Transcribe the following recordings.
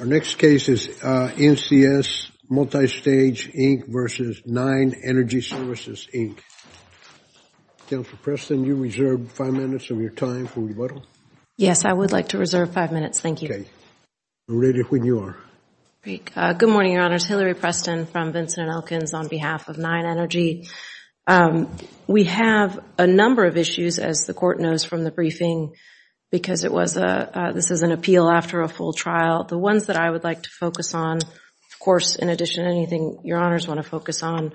Our next case is NCS Multistage Inc. v. Nine Energy Services, Inc. Counselor Preston, you reserve five minutes of your time for rebuttal. Yes, I would like to reserve five minutes. Thank you. We're ready when you are. Great. Good morning, Your Honors. Hilary Preston from Vincent & Elkins on behalf of Nine Energy. We have a number of issues, as the court knows from the briefing, because it was a, this is an appeal after a full trial. The ones that I would like to focus on, of course, in addition to anything Your Honors want to focus on,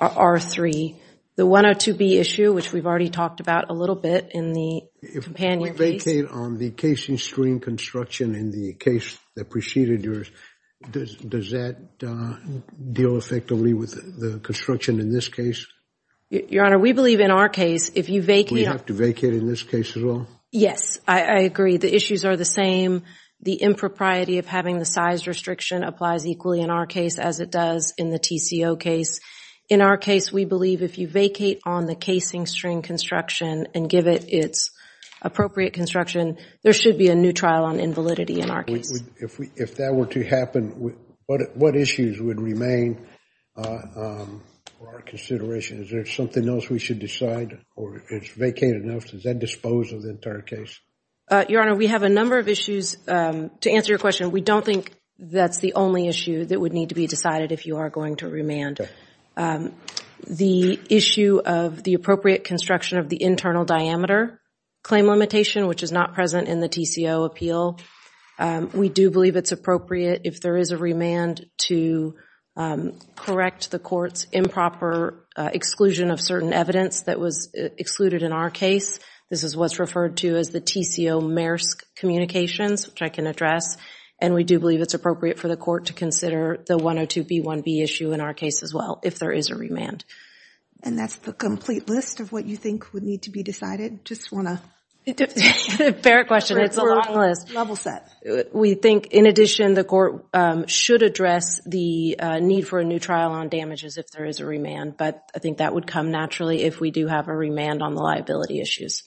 are three. The 102B issue, which we've already talked about a little bit in the companion case. If we vacate on the casing stream construction in the case that preceded yours, does that deal effectively with the construction in this case? Your Honor, we believe in our case, if you vacate. We have to vacate in this case as well? Yes, I agree. The issues are the same. The impropriety of having the size restriction applies equally in our case, as it does in the TCO case. In our case, we believe if you vacate on the casing stream construction and give it its appropriate construction, there should be a new trial on invalidity in our case. If that were to happen, what issues would remain for our consideration? Is there something else we should decide or it's vacated enough? Does that dispose of the entire case? Your Honor, we have a number of issues. To answer your question, we don't think that's the only issue that would need to be decided if you are going to remand. The issue of the appropriate construction of the internal diameter claim limitation, which is not present in the TCO appeal, we do believe it's appropriate if there is a remand to correct the court's improper exclusion of certain evidence that was excluded in our case. This is what's referred to as the TCO Maersk communications, which I can address, and we do believe it's appropriate for the court to consider the 102B1B issue in our case as well, if there is a remand. And that's the complete list of what you think would need to be decided? Just want to... Fair question. It's a long list. Level set. We think, in addition, the court should address the need for a new trial on damages if there is a remand, but I think that would come naturally if we do have a remand on the liability issues.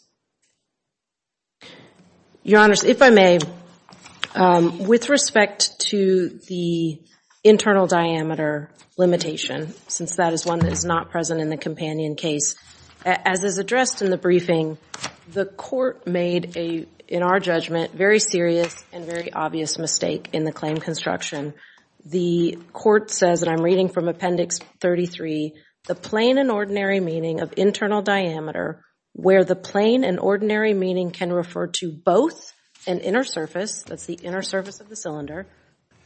Your Honor, if I may, with respect to the internal diameter limitation, since that is one that is not present in the companion case, as is addressed in the briefing, the court made, in our judgment, a very serious and very obvious mistake in the claim construction. The court says, and I'm reading from Appendix 33, the plain and ordinary meaning of internal diameter, where the plain and ordinary meaning can refer to both an inner surface, that's the inner surface of the cylinder,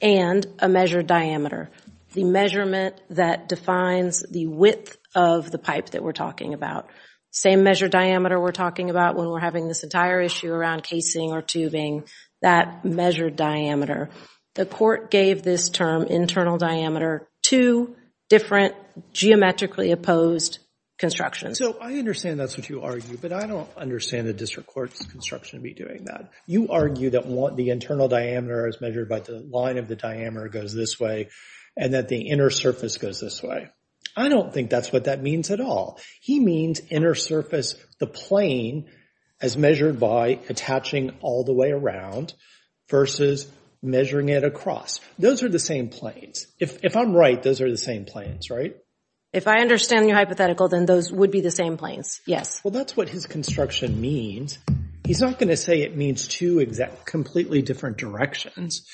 and a measured diameter. The measurement that defines the width of the pipe that we're talking about. Same measured diameter we're talking about when we're having this entire issue around casing or tubing, that measured diameter. The court gave this term, internal diameter, two different geometrically opposed constructions. So I understand that's what you argue, but I don't understand the district court's construction to be doing that. You argue that the internal diameter is measured by the line of the diameter goes this way, and that the inner surface goes this way. I don't think that's what that means at all. He means inner surface, the plain, as measured by attaching all the way around versus measuring it across. Those are the same planes. If I'm right, those are the same planes, right? If I understand your hypothetical, then those would be the same planes. Yes. Well, that's what his construction means. He's not going to say it means two exactly, completely different directions.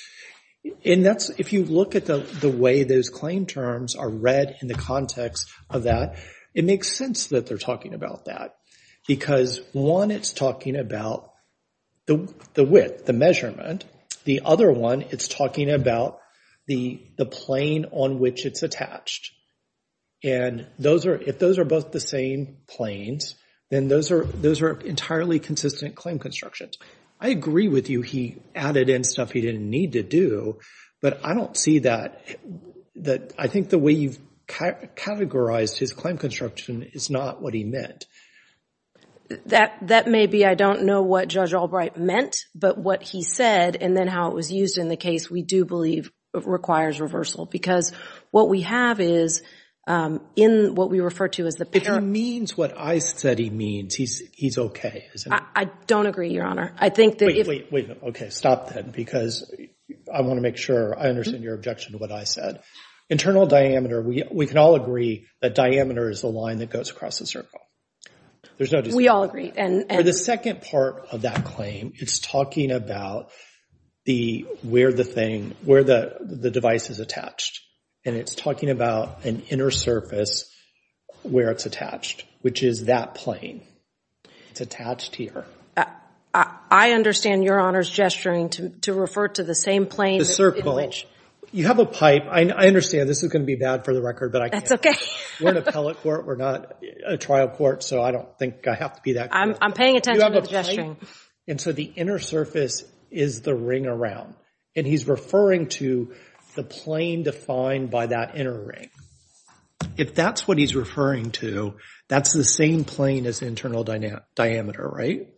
And that's, if you look at the way those claim terms are read in the context of that, it makes sense that they're talking about that, because one, it's talking about the width, the measurement. The other one, it's talking about the plain on which it's attached. And if those are both the same planes, then those are entirely consistent claim constructions. I agree with you. He added in stuff he didn't need to do, but I don't see that. I think the way you've categorized his claim construction is not what he meant. That may be. I don't know what Judge Albright meant, but what he said and then how it was used in the case we do believe requires reversal, because what we have is in what we refer to as the parent. If he means what I said he means, he's okay. I don't agree, Your Honor. I think that if. Wait, wait, wait. Okay. Stop that, because I want to make sure I understand your objection to what I said. Internal diameter. We can all agree that diameter is the line that goes across the circle. There's no disagreement. We all agree. For the second part of that claim, it's talking about the, where the thing, where the device is attached. And it's talking about an inner surface where it's attached, which is that plane. It's attached here. I understand Your Honor's gesturing to refer to the same plane. The circle. In which. You have a pipe. I understand this is going to be bad for the record, but I can't. That's okay. We're an appellate court. We're not a trial court. So I don't think I have to be that. I'm paying attention to the gesturing. And so the inner surface is the ring around. And he's referring to the plane defined by that inner ring. If that's what he's referring to, that's the same plane as internal diameter, right?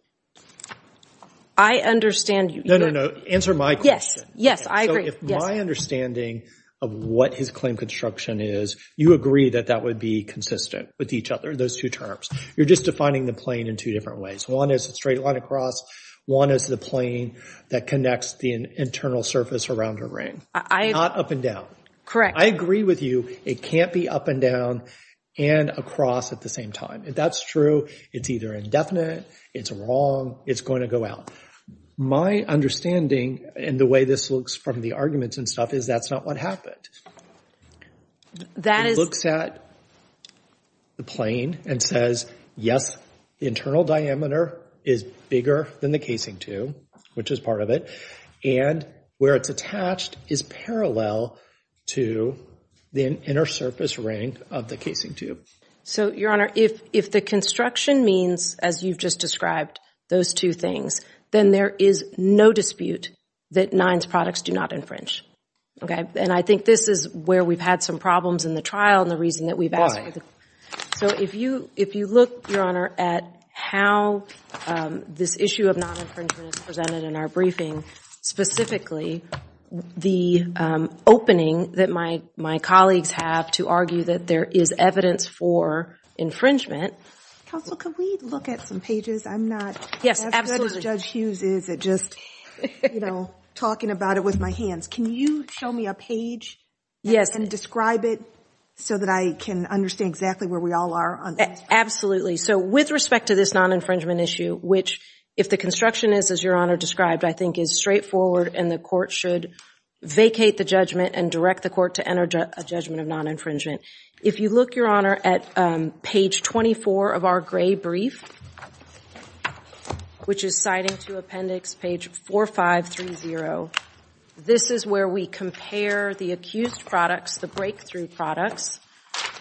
I understand you. No, no, no. Answer my question. I agree. So if my understanding of what his claim construction is, you agree that that would be consistent with each other, those two terms. You're just defining the plane in two different ways. One is a straight line across. One is the plane that connects the internal surface around her ring. Not up and down. Correct. I agree with you. It can't be up and down and across at the same time. If that's true, it's either indefinite, it's wrong, it's going to go out. My understanding and the way this looks from the arguments and stuff is that's not what happened. That is. He looks at the plane and says, yes, the internal diameter is bigger than the casing tube, which is part of it, and where it's attached is parallel to the inner surface ring of the casing tube. So, Your Honor, if the construction means, as you've just described, those two things, then there is no dispute that NINES products do not infringe. Okay. And I think this is where we've had some problems in the trial and the reason that we've asked for it. So if you look, Your Honor, at how this issue of non-infringement is presented in our briefing, specifically the opening that my colleagues have to argue that there is evidence for infringement. Counsel, can we look at some pages? I'm not as good as Judge Hughes is at just talking about it with my hands. Can you show me a page and describe it so that I can understand exactly where we all are on this? Absolutely. So with respect to this non-infringement issue, which, if the construction is, as Your Honor described, I think is straightforward and the court should vacate the judgment and direct the court to enter a judgment of non-infringement. If you look, Your Honor, at page 24 of our gray brief, which is where we compare the accused products, the breakthrough products,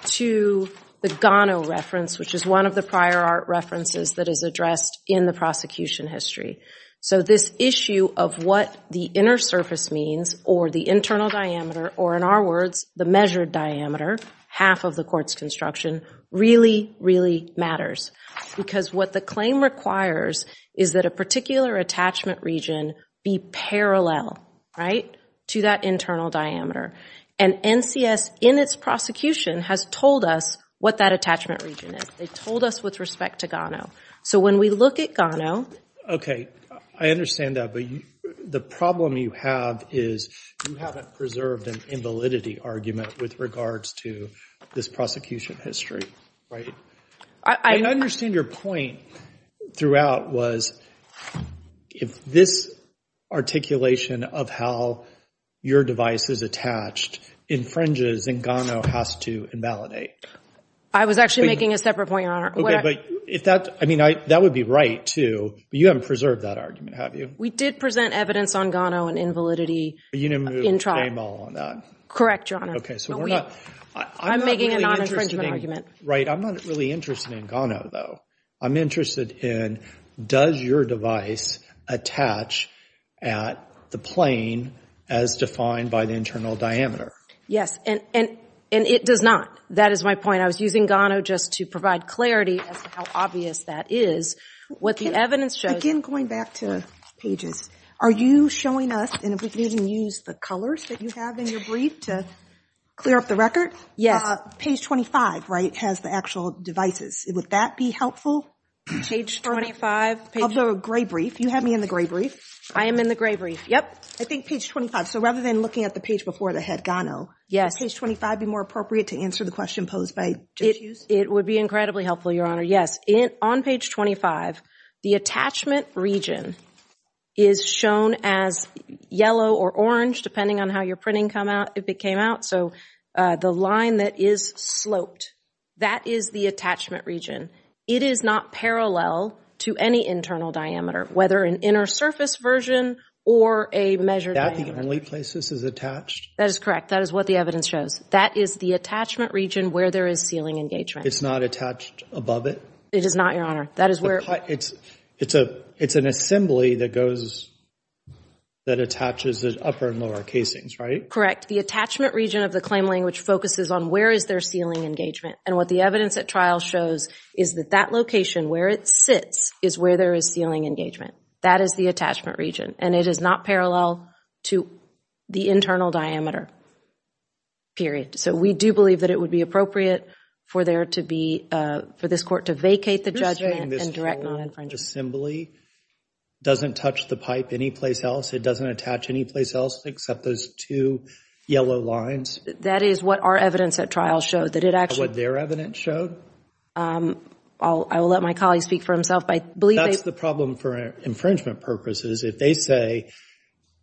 to the Gano reference, which is one of the prior art references that is addressed in the prosecution history. So this issue of what the inner surface means or the internal diameter, or in our words, the measured diameter, half of the court's construction, really, really matters. Because what the claim requires is that a particular attachment region be parallel, right? To that internal diameter. And NCS, in its prosecution, has told us what that attachment region is. They told us with respect to Gano. So when we look at Gano. Okay. I understand that. But the problem you have is you haven't preserved an invalidity argument with regards to this prosecution history, right? I understand your point throughout was if this articulation of how your device is attached infringes and Gano has to invalidate. I was actually making a separate point, Your Honor. Okay. But if that, I mean, that would be right too, but you haven't preserved that argument, have you? We did present evidence on Gano and invalidity in trial. You didn't move a mall on that. Correct, Your Honor. Okay. So we're not, I'm not really interested in, right? I'm not really interested in Gano though. I'm interested in, does your device attach at the plane as defined by the internal diameter? Yes. And, and, and it does not. That is my point. I was using Gano just to provide clarity as to how obvious that is. What the evidence shows. Again, going back to pages, are you showing us, and if we can even use the colors that you have in your brief to clear up the record, page 25, right? Has the actual devices. Would that be helpful? Page 25. Of the gray brief. You have me in the gray brief. I am in the gray brief. Yep. I think page 25. So rather than looking at the page before the head Gano, would page 25 be more appropriate to answer the question posed by Jishu? It would be incredibly helpful, Your Honor. Yes. In, on page 25, the attachment region is shown as yellow or orange, depending on how your printing come out, if it came out. So the line that is sloped, that is the attachment region. It is not parallel to any internal diameter, whether an inner surface version or a measured diameter. That the only place this is attached? That is correct. That is what the evidence shows. That is the attachment region where there is ceiling engagement. It's not attached above it? It is not, Your Honor. That is where. It's, it's a, it's an assembly that goes, that attaches the upper and lower casings, right? Correct. The attachment region of the claim lane, which focuses on where is there ceiling engagement? And what the evidence at trial shows is that that location where it sits is where there is ceiling engagement. That is the attachment region. And it is not parallel to the internal diameter, period. So we do believe that it would be appropriate for there to be, for this court to vacate the judgment and direct non-infringement. This whole assembly doesn't touch the pipe any place else. It doesn't attach any place else except those two yellow lines. That is what our evidence at trial showed. That it actually. What their evidence showed? I'll, I will let my colleague speak for himself. I believe. That's the problem for infringement purposes. If they say,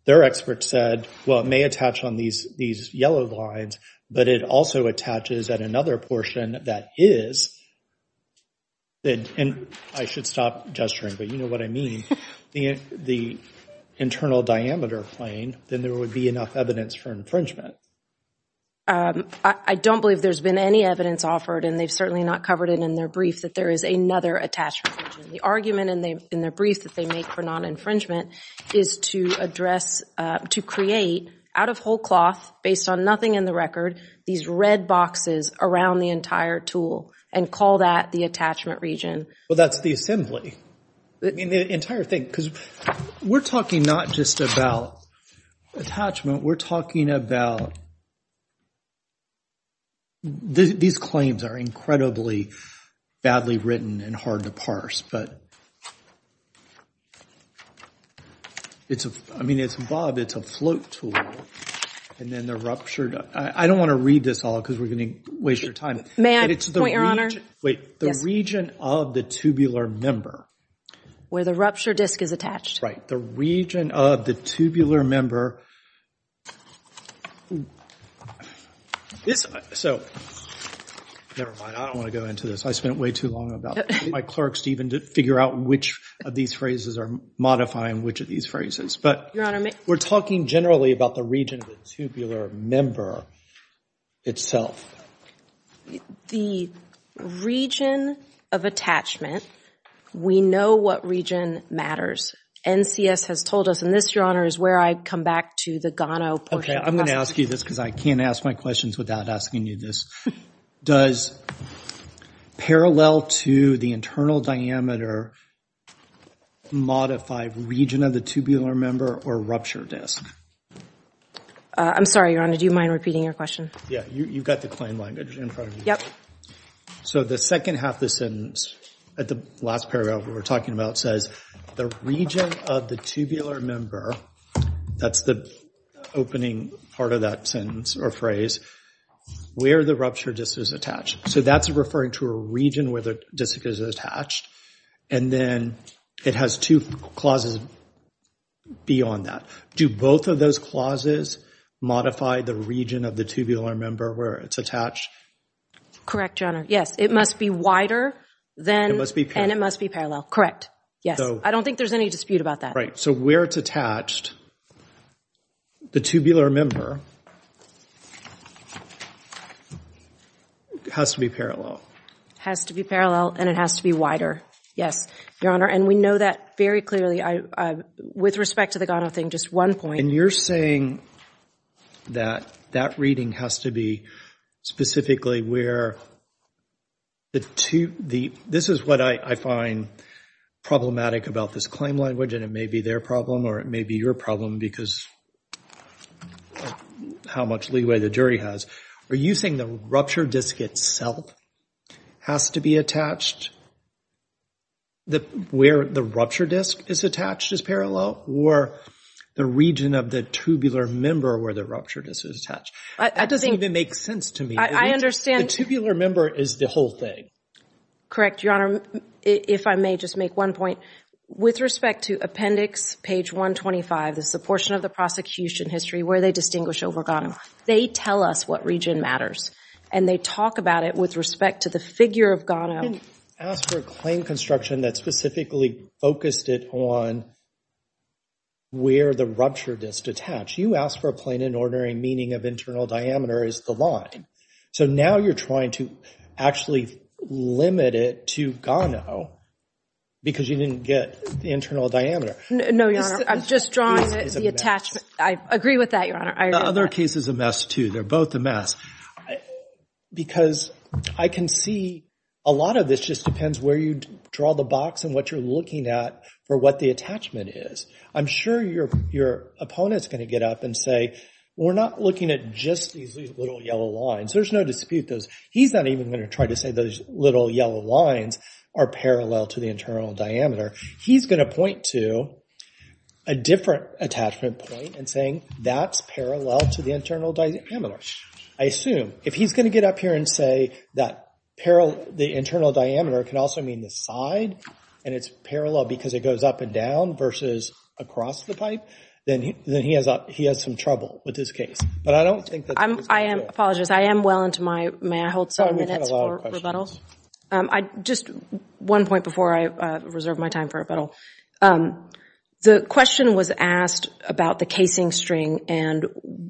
their experts said, well, it may attach on these, these yellow lines, but it also attaches at another portion that is, and I should stop gesturing, but you know what I mean. The internal diameter plane, then there would be enough evidence for infringement. I don't believe there's been any evidence offered and they've certainly not covered it in their brief that there is another attachment. The argument in their brief that they make for non-infringement is to address, to create out of whole cloth based on nothing in the record, these red boxes around the entire tool and call that the attachment region. Well, that's the assembly. I mean, the entire thing, because we're talking not just about attachment, we're talking about, these claims are incredibly badly written and hard to parse. But it's a, I mean, it's, Bob, it's a float tool and then they're ruptured. I don't want to read this all because we're going to waste your time. May I point your honor? Wait, the region of the tubular member. Where the rupture disc is attached. Right. The region of the tubular member. So nevermind. I don't want to go into this. I spent way too long about my clerks to even to figure out which of these phrases are modifying which of these phrases, but we're talking generally about the region of the tubular member itself. The region of attachment, we know what region matters. NCS has told us, and this, your honor, is where I come back to the Gano portion. Okay. I'm going to ask you this because I can't ask my questions without asking you this. Does parallel to the internal diameter modify region of the tubular member or rupture disc? I'm sorry, your honor. Do you mind repeating your question? Yeah, you've got the claim language in front of you. Yep. So the second half of the sentence at the last paragraph we were talking about says the region of the tubular member, that's the opening part of that sentence or phrase, where the rupture disc is attached. So that's referring to a region where the disc is attached. And then it has two clauses beyond that. Do both of those clauses modify the region of the tubular member where it's attached? Correct, your honor. Yes. It must be wider than, and it must be parallel. Yes. I don't think there's any dispute about that. Right. So where it's attached, the tubular member has to be parallel. Has to be parallel and it has to be wider. Yes, your honor. And we know that very clearly. With respect to the Gano thing, just one point. And you're saying that that reading has to be specifically where the two, the, this is what I find problematic about this claim language. And it may be their problem or it may be your problem because how much leeway the jury has. Are you saying the rupture disc itself has to be attached? That where the rupture disc is attached is parallel or the region of the tubular member where the rupture disc is attached. That doesn't even make sense to me. I understand. The tubular member is the whole thing. Correct, your honor. If I may just make one point with respect to appendix page 125, this is the portion of the prosecution history where they distinguish over Gano. They tell us what region matters and they talk about it with respect to the figure of Gano. You didn't ask for a claim construction that specifically focused it on where the rupture disc attached. You asked for a plain and ordinary meaning of internal diameter is the line. So now you're trying to actually limit it to Gano because you didn't get the internal diameter. No, your honor. I'm just drawing the attachment. I agree with that, your honor. The other case is a mess too. They're both a mess. I, because I can see a lot of this just depends where you draw the box and what you're looking at for what the attachment is. I'm sure your, your opponent's going to get up and say, we're not looking at just these little yellow lines. There's no dispute. Those, he's not even going to try to say those little yellow lines are parallel to the internal diameter. He's going to point to a different attachment point and saying that's parallel to the internal diameter. I assume if he's going to get up here and say that parallel, the internal diameter can also mean the side and it's parallel because it goes up and down versus across the pipe, then he has, he has some trouble with this case, but I don't think that. I'm, I am, I apologize. I am well into my, may I hold some minutes for rebuttal? Um, I just one point before I reserve my time for rebuttal. Um, the question was asked about the casing string and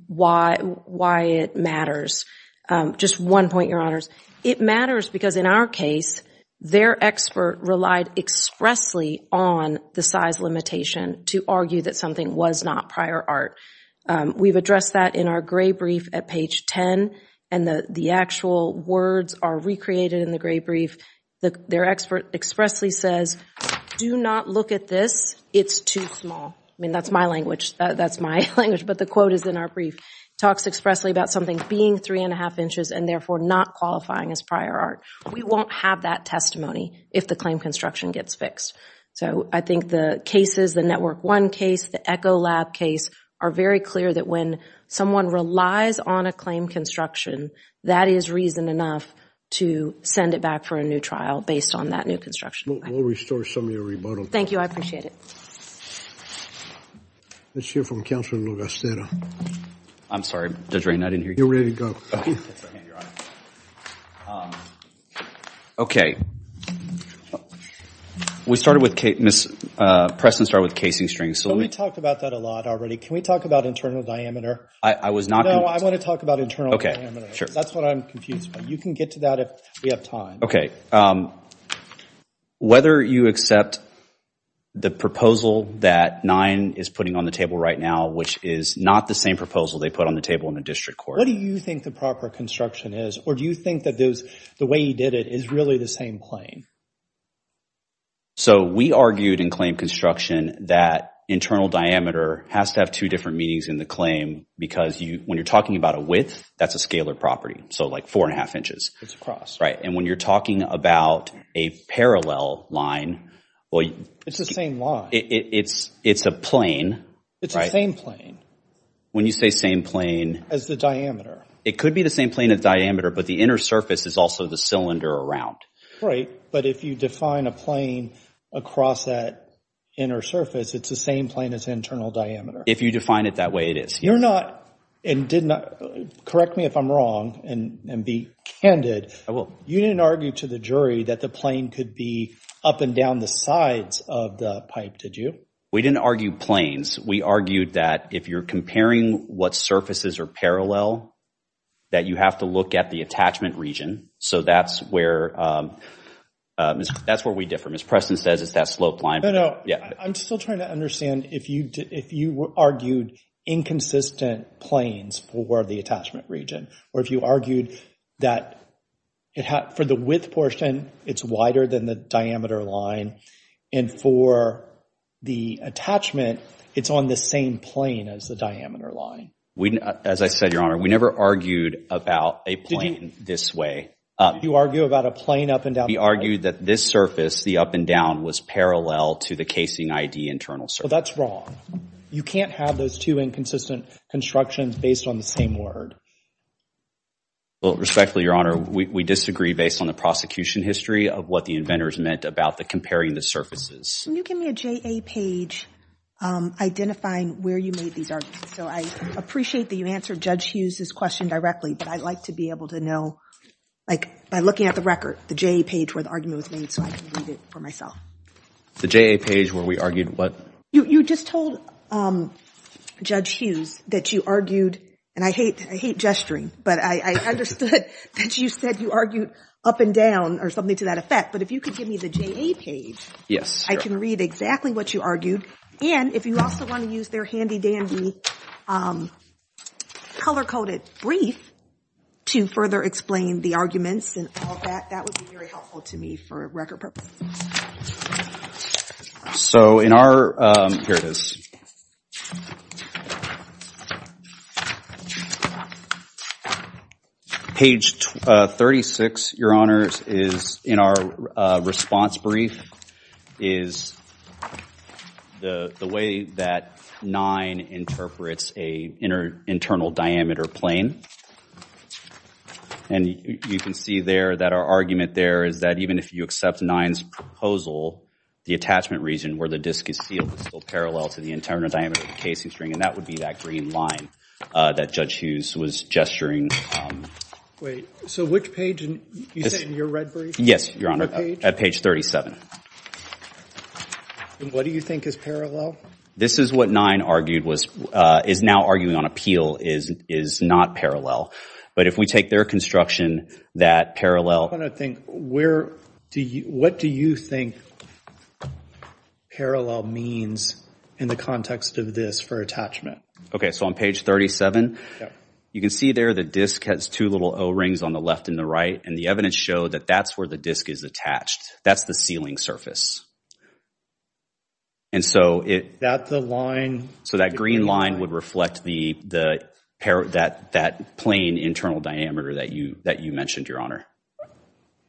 why, why it matters. Um, just one point, your honors. It matters because in our case, their expert relied expressly on the size limitation to argue that something was not prior art. Um, we've addressed that in our gray brief at page 10 and the, the actual words are recreated in the gray brief. The, their expert expressly says, do not look at this. It's too small. I mean, that's my language. That's my language, but the quote is in our brief. Talks expressly about something being three and a half inches and therefore not qualifying as prior art. We won't have that testimony if the claim construction gets fixed. So I think the cases, the network one case, the echo lab case are very clear that when someone relies on a claim construction, that is reason enough to send it back for a new trial based on that new construction. We'll, we'll restore some of your rebuttal. Thank you. I appreciate it. Let's hear from Counselor Lugosteta. I'm sorry, Judge Ray, I didn't hear you. You're ready to go. Okay. We started with Kate, Ms. Uh, Preston started with casing strings. So let me talk about that a lot already. Can we talk about internal diameter? I was not. No, I want to talk about internal diameter. That's what I'm confused by. You can get to that if we have time. Um, whether you accept the proposal that nine is putting on the table right now, which is not the same proposal they put on the table in the district court. What do you think the proper construction is? Or do you think that those, the way he did it is really the same claim? So we argued in claim construction that internal diameter has to have two different meanings in the claim because you, when you're talking about a width, that's a scalar property. So like four and a half inches. It's across, right. And when you're talking about a parallel line, well, it's the same line. It's, it's a plane. It's the same plane. When you say same plane as the diameter, it could be the same plane of diameter, but the inner surface is also the cylinder around. But if you define a plane across that inner surface, it's the same plane as internal diameter. If you define it that way, it is. You're not, and correct me if I'm wrong and be candid, you didn't argue to the jury that the plane could be up and down the sides of the pipe, did you? We didn't argue planes. We argued that if you're comparing what surfaces are parallel, that you have to look at the attachment region. So that's where, that's where we differ. Ms. Preston says it's that slope line. I'm still trying to understand if you, if you argued inconsistent planes for the attachment region, or if you argued that it had, for the width portion, it's wider than the diameter line. And for the attachment, it's on the same plane as the diameter line. We, as I said, Your Honor, we never argued about a plane this way. You argue about a plane up and down? We argued that this surface, the up and down, was parallel to the casing ID internal surface. So that's wrong. You can't have those two inconsistent constructions based on the same word. Well, respectfully, Your Honor, we disagree based on the prosecution history of what the inventors meant about the comparing the surfaces. Can you give me a JA page, identifying where you made these arguments? So I appreciate that you answered Judge Hughes' question directly, but I'd like to be able to know, like, by looking at the record, the JA page where the argument was made, so I can read it for myself. The JA page where we argued what? You just told Judge Hughes that you argued, and I hate, I hate gesturing, but I understood that you said you argued up and down or something to that effect. But if you could give me the JA page, I can read exactly what you argued. And if you also want to use their handy-dandy color-coded brief to further explain the arguments and all that, that would be very helpful to me for record purposes. So in our, here it is. Page 36, Your Honors, is in our response brief, is the way that 9 interprets a internal diameter plane. And you can see there that our argument there is that even if you accept 9's proposal, the attachment region where the disc is sealed is still parallel to the internal diameter of the casing string, and that would be that green line that Judge Hughes was gesturing. Wait, so which page, you said in your red brief? Yes, Your Honor, at page 37. And what do you think is parallel? This is what 9 argued was, is now arguing on appeal is not parallel. But if we take their construction, that parallel. I want to think, what do you think parallel means in the context of this for attachment? Okay, so on page 37, you can see there the disc has two little o-rings on the left and the right, and the evidence showed that that's where the disc is attached. That's the sealing surface. And so it. That the line. So that green line would reflect that plane internal diameter that you mentioned, Your Honor.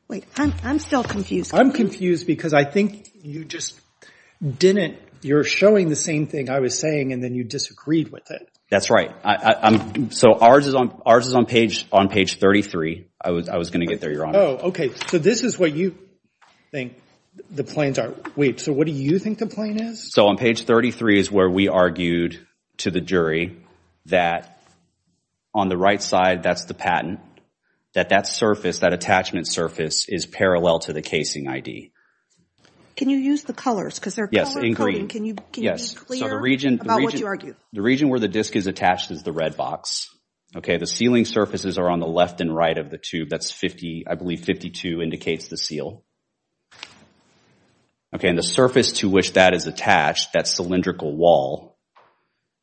Wait, I'm still confused. I'm confused because I think you just didn't. You're showing the same thing I was saying, and then you disagreed with it. That's right. So ours is on page 33. I was going to get there, Your Honor. Oh, okay. So this is what you think the planes are. Wait, so what do you think the plane is? So on page 33 is where we argued to the jury that on the right side, that's the patent, that that surface, that attachment surface is parallel to the casing ID. Can you use the colors? Because they're color coding. Yes, in green. Can you be clear about what you argue? The region where the disc is attached is the red box. Okay, the sealing surfaces are on the left and right of the tube. That's 50, I believe 52 indicates the seal. Okay, and the surface to which that is attached, that cylindrical wall,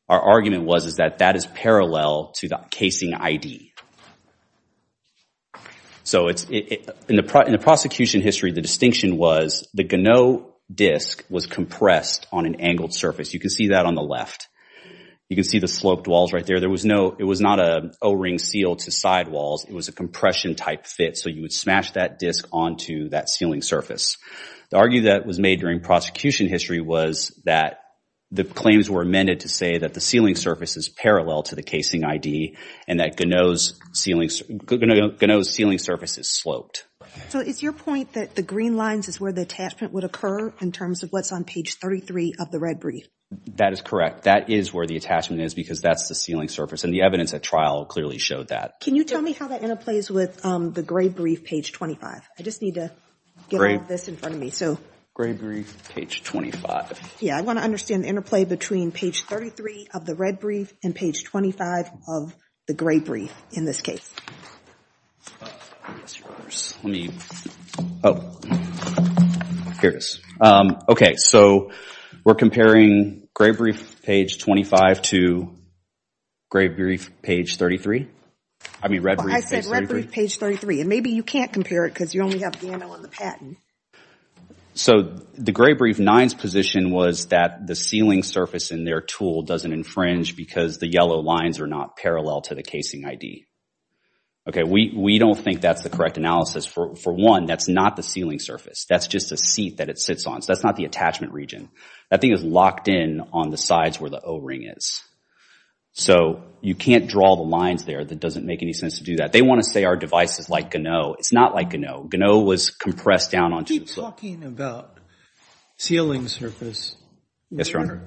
our argument was is that that is parallel to the casing ID. So in the prosecution history, the distinction was the Ganot disc was compressed on an angled surface. You can see that on the left. You can see the sloped walls right there. There was no, it was not a O-ring seal to sidewalls. It was a compression type fit. So you would smash that disc onto that sealing surface. The argument that was made during prosecution history was that the claims were amended to that the sealing surface is parallel to the casing ID and that Ganot's sealing surface is sloped. So is your point that the green lines is where the attachment would occur in terms of what's on page 33 of the red brief? That is correct. That is where the attachment is because that's the sealing surface. And the evidence at trial clearly showed that. Can you tell me how that interplays with the gray brief, page 25? I just need to get all this in front of me. So gray brief, page 25. Yeah, I want to understand the interplay between page 33 of the red brief and page 25 of the gray brief in this case. Okay, so we're comparing gray brief, page 25 to gray brief, page 33. I mean red brief, page 33. And maybe you can't compare it because you only have Ganot on the patent. So the gray brief, 9's position was that the sealing surface in their tool doesn't infringe because the yellow lines are not parallel to the casing ID. Okay, we don't think that's the correct analysis. For one, that's not the sealing surface. That's just a seat that it sits on. So that's not the attachment region. That thing is locked in on the sides where the O-ring is. So you can't draw the lines there. That doesn't make any sense to do that. They want to say our device is like Ganot. It's not like Ganot. Ganot was compressed down on. Keep talking about sealing surface. Yes, Your Honor.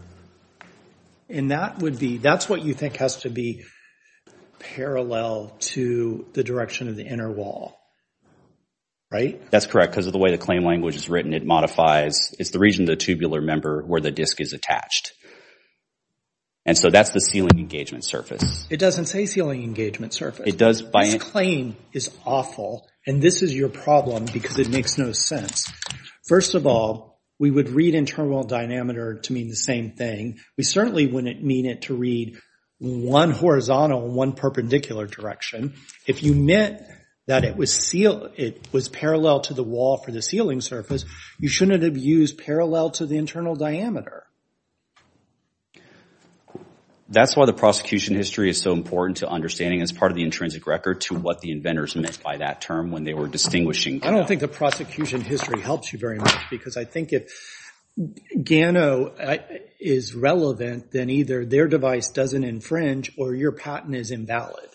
And that would be, that's what you think has to be parallel to the direction of the inner wall. Right? That's correct because of the way the claim language is written. It modifies, it's the region of the tubular member where the disc is attached. And so that's the sealing engagement surface. It doesn't say sealing engagement surface. It does by. This claim is awful. And this is your problem because it makes no sense. First of all, we would read internal diameter to mean the same thing. We certainly wouldn't mean it to read one horizontal, one perpendicular direction. If you meant that it was sealed, it was parallel to the wall for the sealing surface, you shouldn't have used parallel to the internal diameter. That's why the prosecution history is so important to understanding as part of the intrinsic record to what the inventors meant by that term when they were distinguishing. I don't think the prosecution history helps you very much because I think if Ganot is relevant, then either their device doesn't infringe or your patent is invalid.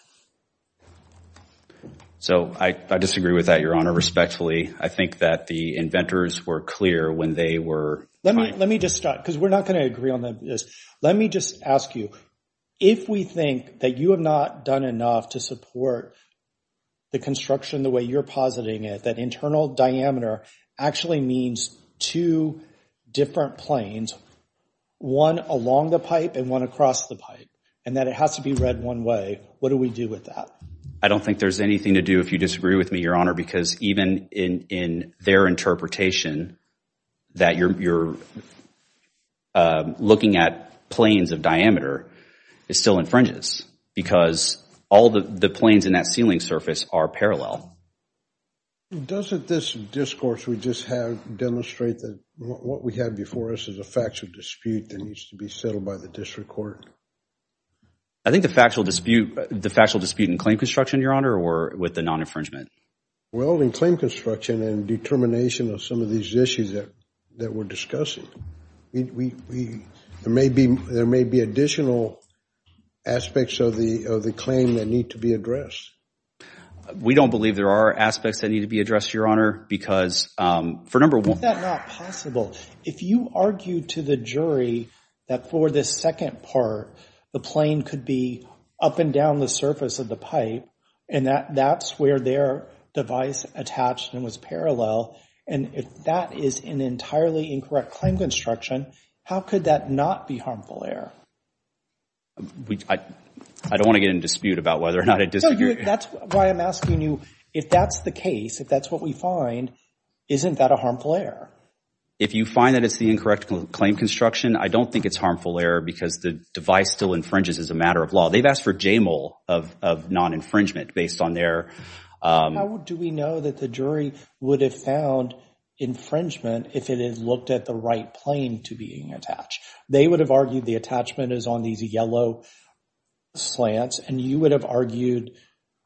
So I disagree with that, Your Honor, respectfully. I think that the inventors were clear when they were. Let me just start because we're not going to agree on this. Let me just ask you, if we think that you have not done enough to support the construction the way you're positing it, that internal diameter actually means two different planes, one along the pipe and one across the pipe, and that it has to be read one way, what do we do with that? I don't think there's anything to do if you disagree with me, Your Honor, because even in their interpretation that you're looking at planes of diameter, it still infringes because all the planes in that ceiling surface are parallel. Doesn't this discourse we just have demonstrate that what we have before us is a factual dispute that needs to be settled by the district court? I think the factual dispute in claim construction, Your Honor, with the non-infringement. Well, in claim construction and determination of some of these issues that we're discussing, there may be additional aspects of the claim that need to be addressed. We don't believe there are aspects that need to be addressed, Your Honor, because for a number of— Is that not possible? If you argue to the jury that for this second part, the plane could be up and down the surface of the pipe and that's where their device attached and was parallel, and if that is an entirely incorrect claim construction, how could that not be harmful error? I don't want to get in dispute about whether or not I disagree. That's why I'm asking you, if that's the case, if that's what we find, isn't that a harmful error? If you find that it's the incorrect claim construction, I don't think it's harmful error because the device still infringes as a matter of law. They've asked for JML of non-infringement based on their— How do we know that the jury would have found infringement if it had looked at the right plane to being attached? They would have argued the attachment is on these yellow slants, and you would have argued,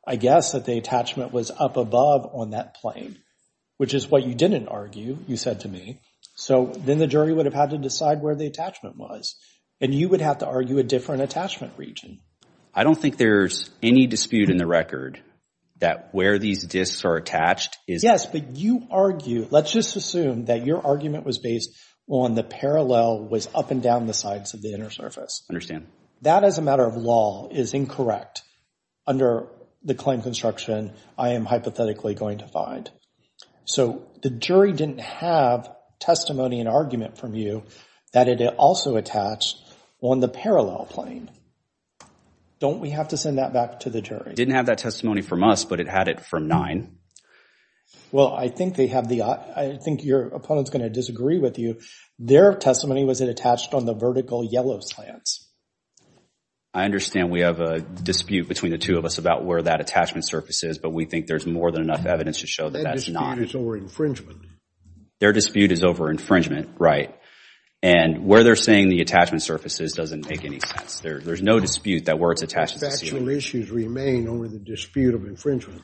I guess, that the attachment was up above on that plane, which is what you didn't argue, you said to me. So then the jury would have had to decide where the attachment was, and you would have to argue a different attachment region. I don't think there's any dispute in the record that where these discs are attached is— Yes, but you argue, let's just assume that your argument was based on the parallel was up and down the sides of the inner surface. Understand. That as a matter of law is incorrect under the claim construction I am hypothetically going to find. So the jury didn't have testimony and argument from you that it also attached on the parallel plane. Don't we have to send that back to the jury? Didn't have that testimony from us, but it had it from nine. Well, I think they have the—I think your opponent's going to disagree with you. Their testimony was it attached on the vertical yellow slants. I understand we have a dispute between the two of us about where that attachment surface is, but we think there's more than enough evidence to show that that's not— That dispute is over infringement. Their dispute is over infringement, right. And where they're saying the attachment surface is doesn't make any sense. There's no dispute that where it's attached— Factual issues remain over the dispute of infringement.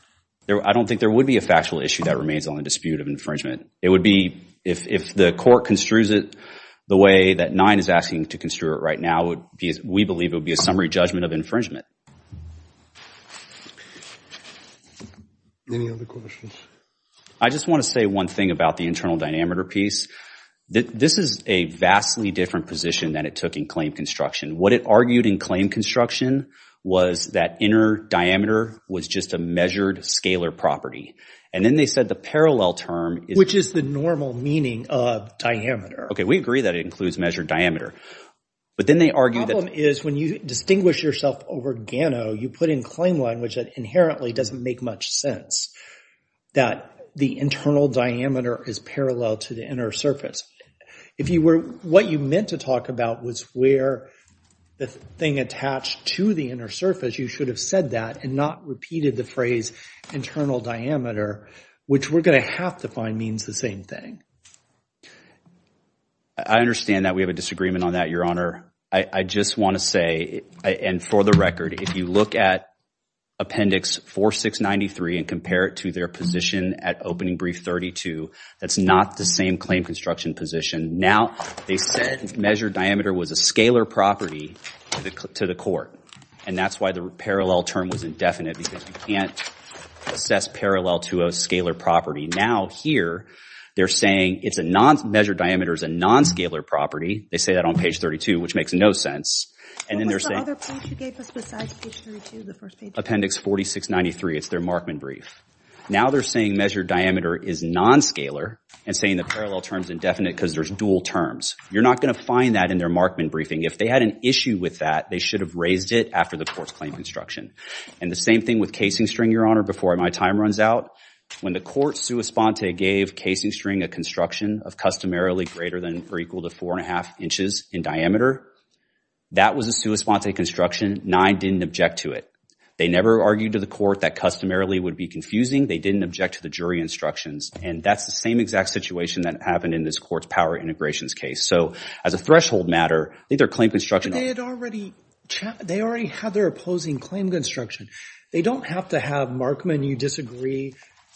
I don't think there would be a factual issue that remains on the dispute of infringement. It would be if the court construes it the way that nine is asking to construe it right now, we believe it would be a summary judgment of infringement. Any other questions? I just want to say one thing about the internal dynamiter piece. This is a vastly different position than it took in claim construction. What it argued in claim construction was that inner diameter was just a measured scalar property. And then they said the parallel term— Which is the normal meaning of diameter. Okay, we agree that it includes measured diameter. But then they argued— The problem is when you distinguish yourself over Gano, you put in claim language that inherently doesn't make much sense. That the internal diameter is parallel to the inner surface. If what you meant to talk about was where the thing attached to the inner surface, you should have said that and not repeated the phrase internal diameter, which we're going to have to find means the same thing. I understand that we have a disagreement on that, Your Honor. I just want to say, and for the record, if you look at Appendix 4693 and compare it to their position at Opening Brief 32, that's not the same claim construction position. Now, they said measured diameter was a scalar property to the court. And that's why the parallel term was indefinite because you can't assess parallel to a scalar property. Now, here, they're saying it's a non— measured diameter is a non-scalar property. They say that on page 32, which makes no sense. And then they're saying— What was the other page you gave us besides page 32, the first page? Appendix 4693. It's their Markman brief. Now, they're saying measured diameter is non-scalar and saying the parallel term is indefinite because there's dual terms. You're not going to find that in their Markman briefing. If they had an issue with that, they should have raised it after the court's claim construction. And the same thing with casing string, Your Honor, before my time runs out. When the court sua sponte gave casing string a construction of customarily greater than or equal to four and a half inches in diameter, that was a sua sponte construction. Nye didn't object to it. They never argued to the court that customarily would be confusing. They didn't object to the jury instructions. And that's the same exact situation that happened in this court's power integrations case. So as a threshold matter, I think their claim construction— But they had already— They already had their opposing claim construction. They don't have to have Markman. You disagree.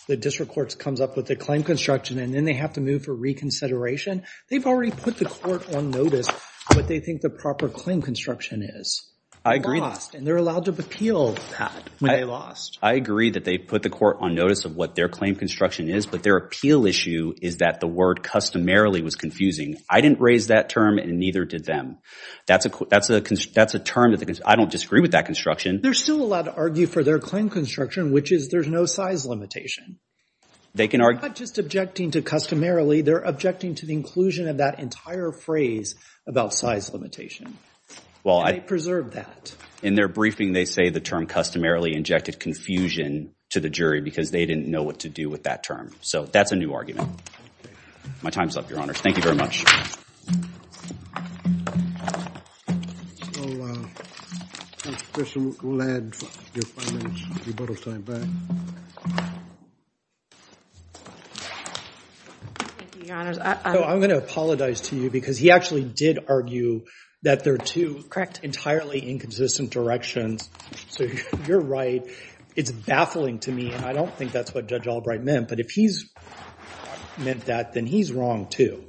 The district court comes up with the claim construction, and then they have to move for reconsideration. They've already put the court on notice what they think the proper claim construction is. I agree. And they're allowed to appeal that when they lost. I agree that they put the court on notice of what their claim construction is, but their appeal issue is that the word customarily was confusing. I didn't raise that term, and neither did them. That's a term that— I don't disagree with that construction. They're still allowed to argue for their claim construction, which is there's no size limitation. They can argue— They're not just objecting to customarily. They're objecting to the inclusion of that entire phrase about size limitation. Well, I— And they preserved that. In their briefing, they say the term customarily injected confusion to the jury because they didn't know what to do with that term. So that's a new argument. My time's up, Your Honors. Thank you very much. Your Honors, I— I'm going to apologize to you because he actually did argue that there are two— Correct. —entirely inconsistent directions. So you're right. It's baffling to me, and I don't think that's what Judge Albright meant. But if he's meant that, then he's wrong, too.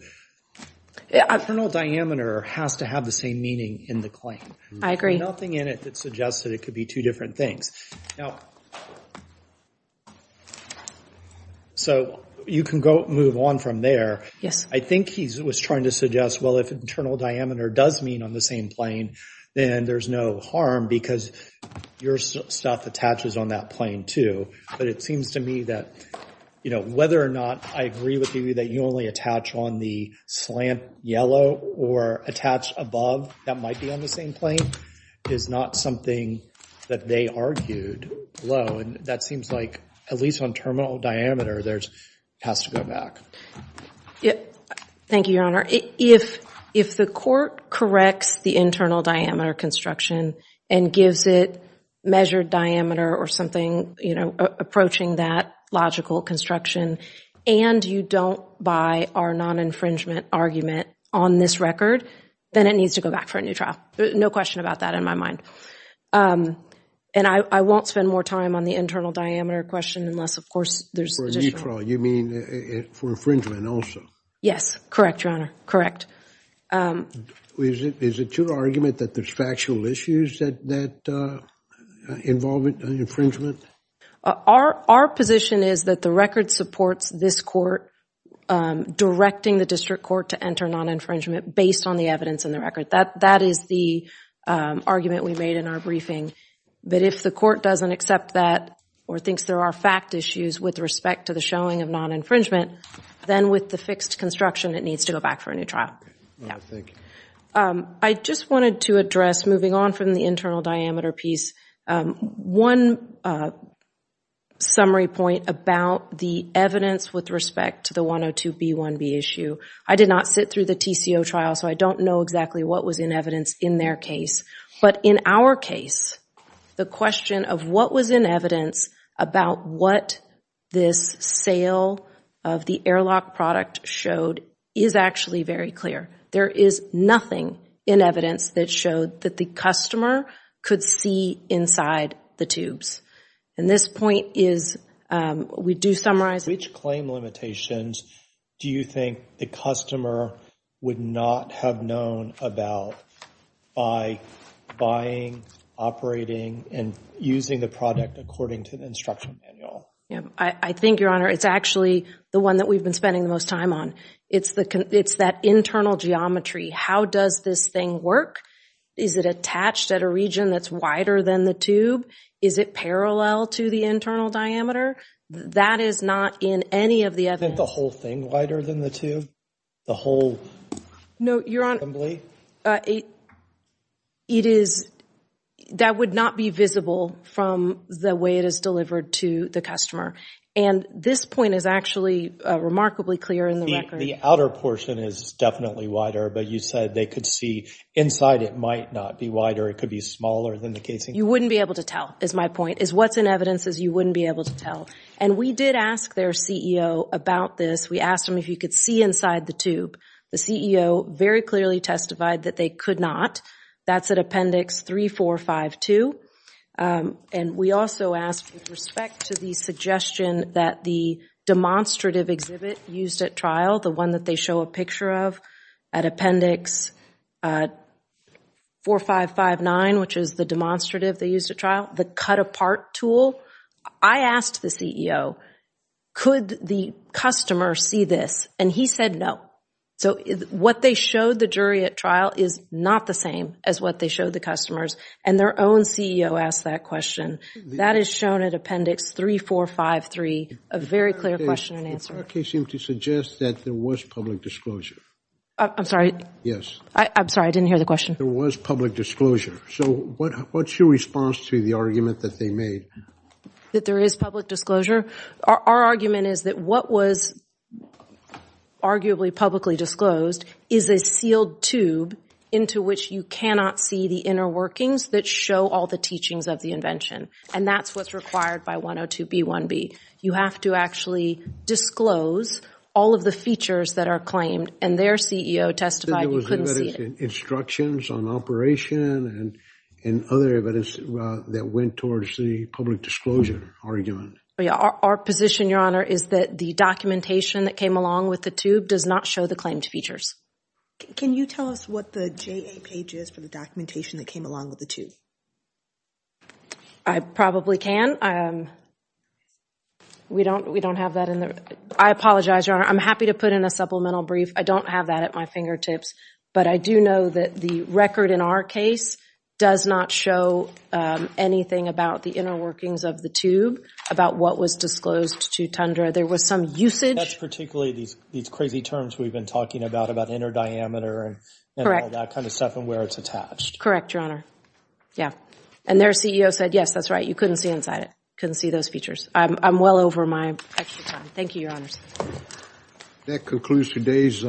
Internal diameter has to have the same meaning in the claim. I agree. There's nothing in it that suggests that it could be two different things. Now, so you can go move on from there. Yes. I think he was trying to suggest, well, if internal diameter does mean on the same plane, then there's no harm because your stuff attaches on that plane, too. But it seems to me that, you know, whether or not I agree with you that you only attach on the slant yellow or attach above that might be on the same plane is not something that they argued below. And that seems like, at least on terminal diameter, there's—has to go back. Thank you, Your Honor. If the court corrects the internal diameter construction and gives it measured diameter or something, you know, approaching that logical construction, and you don't buy our non-infringement argument on this record, then it needs to go back for a new trial. No question about that in my mind. And I won't spend more time on the internal diameter question unless, of course, there's— For a new trial. You mean for infringement also? Yes. Correct, Your Honor. Correct. Is it your argument that there's factual issues that involve infringement? Our position is that the record supports this court directing the district court to enter non-infringement based on the evidence in the record. That is the argument we made in our briefing. But if the court doesn't accept that or thinks there are fact issues with respect to the showing of non-infringement, then with the fixed construction, it needs to go back for a new trial. I just wanted to address, moving on from the internal diameter piece, one summary point about the evidence with respect to the 102B1B issue. I did not sit through the TCO trial, so I don't know exactly what was in evidence in their case. But in our case, the question of what was in evidence about what this sale of the airlock product showed is actually very clear. There is nothing in evidence that showed that the customer could see inside the tubes. And this point is, we do summarize— Which claim limitations do you think the customer would not have known about by buying, operating, and using the product according to the instruction manual? Yeah, I think, Your Honor, it's actually the one that we've been spending the most time on. It's that internal geometry. How does this thing work? Is it attached at a region that's wider than the tube? Is it parallel to the internal diameter? That is not in any of the evidence. Isn't the whole thing wider than the tube? The whole assembly? No, Your Honor, that would not be visible from the way it is delivered to the customer. And this point is actually remarkably clear in the record. The outer portion is definitely wider, but you said they could see inside. It might not be wider. It could be smaller than the casing. You wouldn't be able to tell, is my point. What's in evidence is you wouldn't be able to tell. And we did ask their CEO about this. We asked them if you could see inside the tube. The CEO very clearly testified that they could not. That's at Appendix 3452. And we also asked with respect to the suggestion that the demonstrative exhibit used at trial, the one that they show a picture of at Appendix 4559, which is the demonstrative they used at trial, the cut-apart tool. I asked the CEO, could the customer see this? And he said no. So what they showed the jury at trial is not the same as what they showed the customers. And their own CEO asked that question. That is shown at Appendix 3453. A very clear question and answer. Your case seemed to suggest that there was public disclosure. I'm sorry? Yes. I'm sorry, I didn't hear the question. There was public disclosure. So what's your response to the argument that they made? That there is public disclosure? Our argument is that what was arguably publicly disclosed is a sealed tube into which you cannot see the inner workings that show all the teachings of the invention. And that's what's required by 102B1B. You have to actually disclose all of the features that are claimed. And their CEO testified you couldn't see it. Instructions on operation and other evidence that went towards the public disclosure argument. Our position, Your Honor, is that the documentation that came along with the tube does not show the claimed features. Can you tell us what the JA page is for the documentation that came along with the tube? I probably can. We don't have that in there. I apologize, Your Honor. I'm happy to put in a supplemental brief. I don't have that at my fingertips. But I do know that the record in our case does not show anything about the inner workings of the tube, about what was disclosed to Tundra. There was some usage. That's particularly these crazy terms we've been talking about, about inner diameter and all that kind of stuff and where it's attached. Correct, Your Honor. Yeah. And their CEO said, yes, that's right. You couldn't see inside it. Couldn't see those features. I'm well over my extra time. Thank you, Your Honors. That concludes today's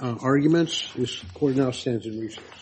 arguments. This court now stands in recess.